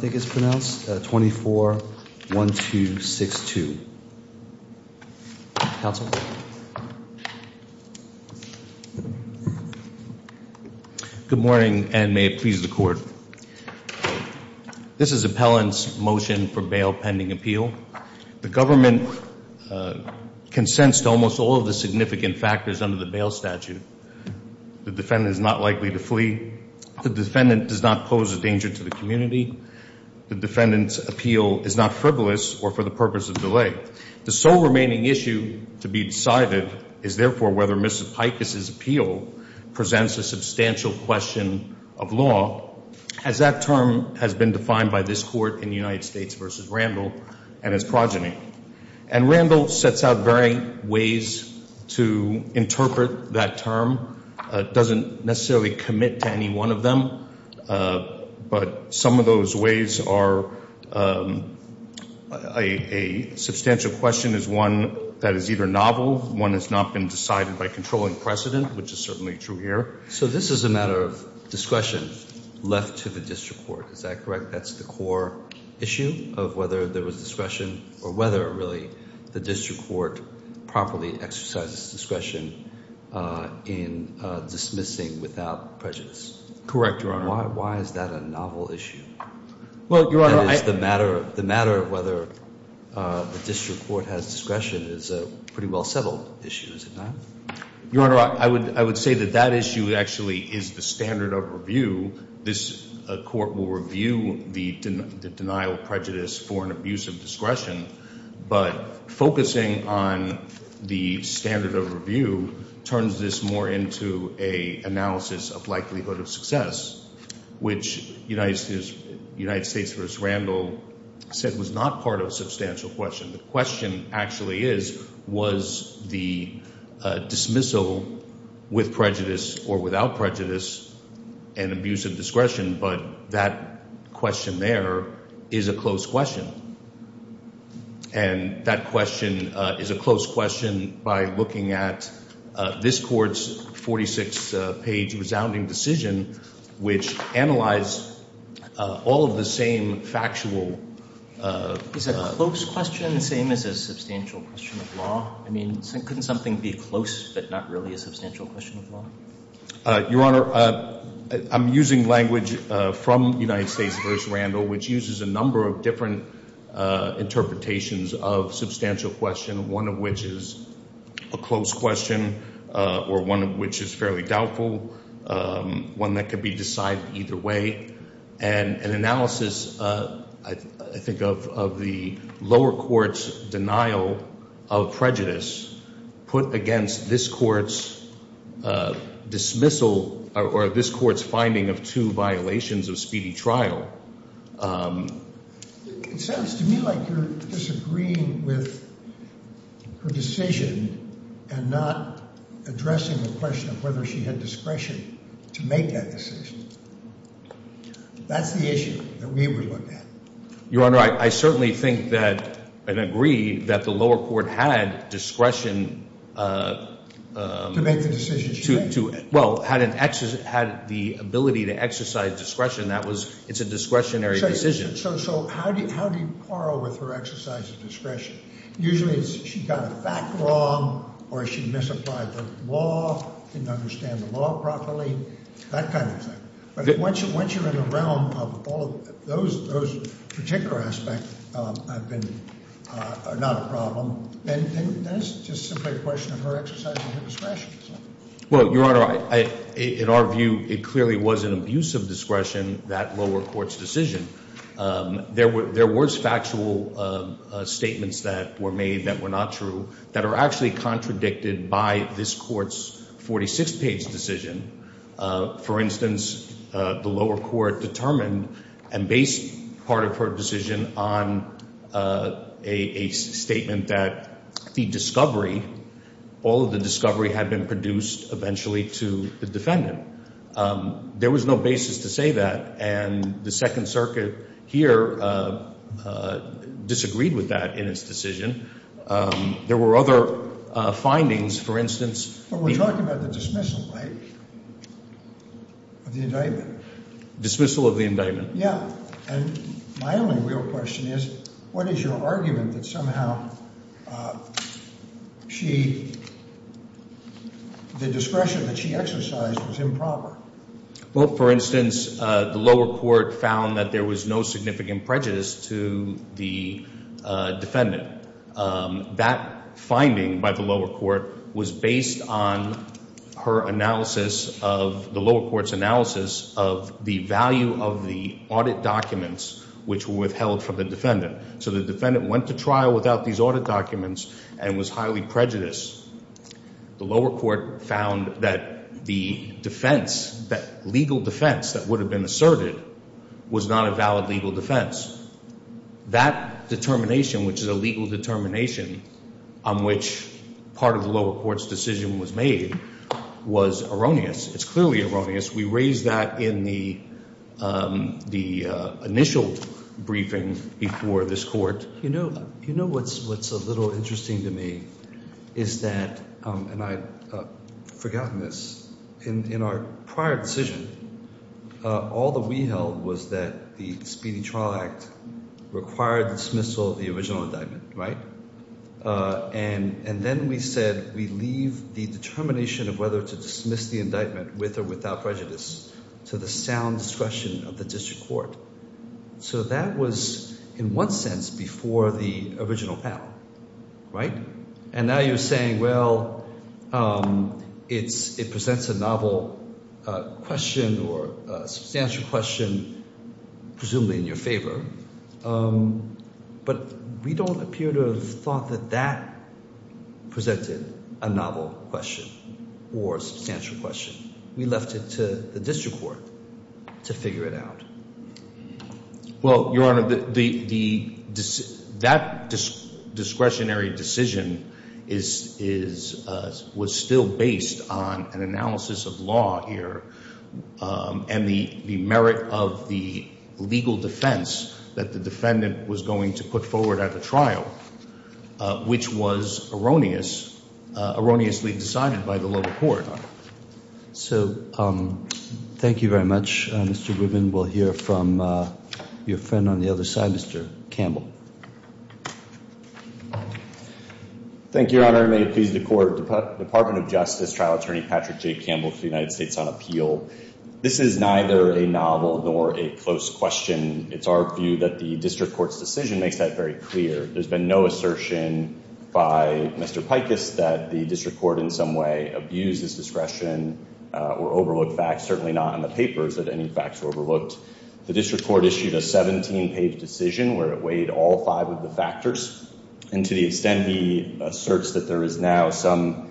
pronounced 24-1262. Good morning and may it please the court. This is appellant's motion for bail pending appeal. The government consents to almost all of the significant factors under the bail statute. The defendant is not likely to flee. The defendant does not pose a danger to the community. The defendant's appeal is not frivolous or for the purpose of delay. The sole remaining issue to be decided is therefore whether Mrs. Pikus' appeal presents a substantial question of law, as that term has been defined by this court in United States v. Randall and his progeny. And Randall sets out varying ways to interpret that term, doesn't necessarily commit to any one of them, but some of those ways are a substantial question is one that is either novel, one that's not been decided by controlling precedent, which is certainly true here. So this is a matter of discretion left to the district court, is that correct? That's the core issue of whether there was discretion or whether really the district court properly exercises discretion in dismissing without prejudice. Correct, Your Honor. Why is that a novel issue? That is, the matter of whether the district court has discretion is a pretty well settled issue, is it not? Your Honor, I would say that that issue actually is the standard of review. This court will review the denial of prejudice for an abuse of discretion, but focusing on the standard of review turns this more into an analysis of likelihood of success, which United States v. Randall said was not part of a substantial question. The question actually is, was the dismissal with prejudice or without prejudice an abuse of discretion, but that question there is a close question. And that question is a close question by looking at this Court's 46-page resounding decision, which analyzed all of the same factual Is a close question the same as a substantial question of law? I mean, couldn't something be close but not really a substantial question of law? Your Honor, I'm using language from United States v. Randall, which uses a number of different interpretations of substantial question, one of which is a close question or one of which is fairly doubtful, one that could be decided either way. And an analysis, I think, of the lower court's denial of prejudice put against this Court's dismissal or this Court's finding of two violations of speedy trial. It sounds to me like you're disagreeing with her decision and not addressing the question of whether she had discretion to make that decision. That's the issue that we would look at. Your Honor, I certainly think that and agree that the lower court had discretion to make the decision. Well, had the ability to exercise discretion. That was, it's a discretionary decision. So how do you par with her exercise of discretion? Usually she got a fact wrong or she misapplied the law, didn't understand the law properly, that kind of thing. But once you're in the realm of all of those particular aspects have been not a problem, then it's just simply a question of her exercising her discretion. Well, Your Honor, in our view, it clearly was an abuse of discretion, that lower court's decision. There were factual statements that were made that were not true that are actually contradicted by this Court's 46 page decision. For instance, the lower court determined and based part of her decision on a statement that the discovery, all of the discovery had been produced eventually to the defendant. There was no basis to say that. And the Second Circuit here disagreed with that in its decision. There were other findings, for instance. But we're talking about the dismissal, right? Of the indictment. Dismissal of the indictment. Yeah. And my only real question is, what is your argument that somehow she, the discretion that she exercised was improper? Well, for instance, the lower court found that there was no significant prejudice to the defendant. That finding by the lower court was based on her analysis of the lower court's analysis of the value of the audit documents which were withheld from the defendant. So the defendant went to trial without these audit documents and was highly prejudiced. The lower court found that the defense, that legal defense that would have been asserted was not a valid legal defense. That determination, which is a legal determination on which part of the lower court's decision was made, was erroneous. It's clearly erroneous. We raised that in the initial briefing before this court. You know what's a little interesting to me is that, and I've forgotten this, in our prior decision, all that we held was that the Speedy Trial Act required the dismissal of the original indictment, right? And then we said we leave the determination of whether to dismiss the indictment with or without prejudice to the sound discretion of the district court. So that was, in one sense, before the original panel, right? And now you're saying, well, it presents a novel question or a substantial question, presumably in your favor. But we don't appear to have thought that that presented a novel question or a substantial question. We left it to the district court to figure it out. Well, Your Honor, that discretionary decision was still based on an analysis of law here and the merit of the legal defense that the defendant was going to put forward at the trial, which was erroneously decided by the lower court. So thank you very much, Mr. Grubin. We'll hear from your friend on the other side, Mr. Campbell. Thank you, Your Honor. And may it please the court, Department of Justice Trial Attorney Patrick J. Campbell to the United States on appeal. This is neither a novel nor a close question. It's our view that the district court's decision makes that very clear. There's been no assertion by Mr. Pikus that the district court in some way abused his discretion or overlooked facts, certainly not in the papers that any facts were overlooked. The district court issued a 17-page decision where it weighed all five of the factors. And to the extent he asserts that there is now some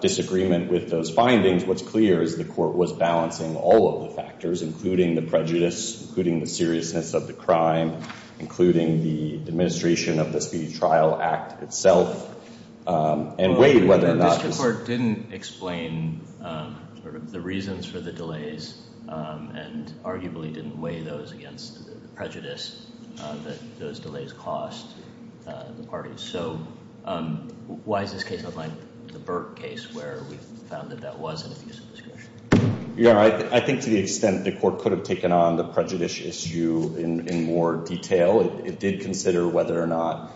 disagreement with those findings, what's clear is the court was balancing all of the factors, including the prejudice, including the seriousness of the crime, including the administration of the Speedy Trial Act itself, and weighed whether or not— including sort of the reasons for the delays and arguably didn't weigh those against the prejudice that those delays caused the parties. So why does this case look like the Burke case where we found that that was an abuse of discretion? Your Honor, I think to the extent the court could have taken on the prejudice issue in more detail, it did consider whether or not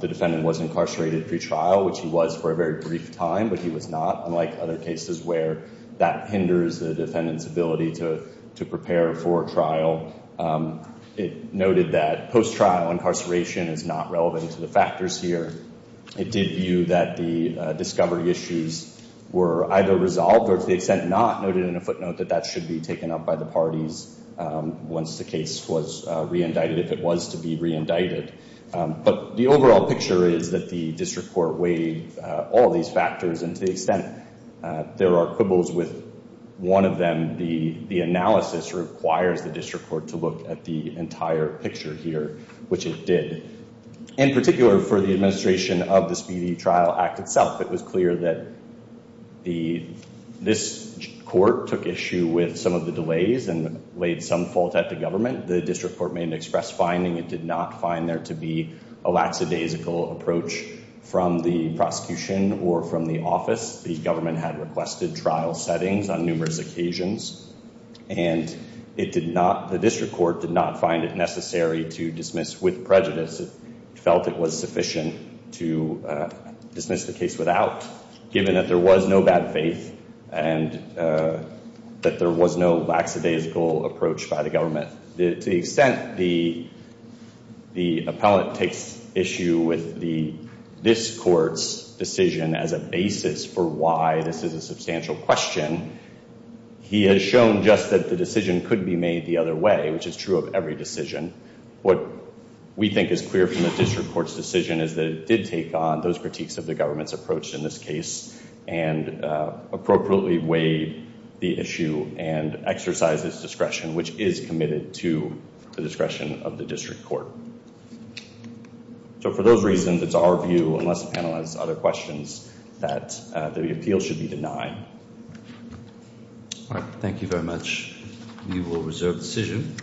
the defendant was incarcerated pretrial, which he was for a very brief time, but he was not. And there are other cases where that hinders the defendant's ability to prepare for trial. It noted that post-trial incarceration is not relevant to the factors here. It did view that the discovery issues were either resolved or, to the extent not noted in a footnote, that that should be taken up by the parties once the case was re-indicted, if it was to be re-indicted. But the overall picture is that the district court weighed all these factors, and to the extent there are quibbles with one of them, the analysis requires the district court to look at the entire picture here, which it did. In particular, for the administration of the Speedy Trial Act itself, it was clear that this court took issue with some of the delays and laid some fault at the government. The district court made an express finding it did not find there to be a lackadaisical approach from the prosecution or from the office. The government had requested trial settings on numerous occasions, and the district court did not find it necessary to dismiss with prejudice. It felt it was sufficient to dismiss the case without, given that there was no bad faith and that there was no lackadaisical approach by the government. To the extent the appellant takes issue with this court's decision as a basis for why this is a substantial question, he has shown just that the decision could be made the other way, which is true of every decision. What we think is clear from the district court's decision is that it did take on those critiques of the government's approach in this case and appropriately weighed the issue and exercised its discretion, which is committed to the discretion of the district court. So for those reasons, it's our view, unless the panel has other questions, that the appeal should be denied. All right, thank you very much. We will reserve the decision.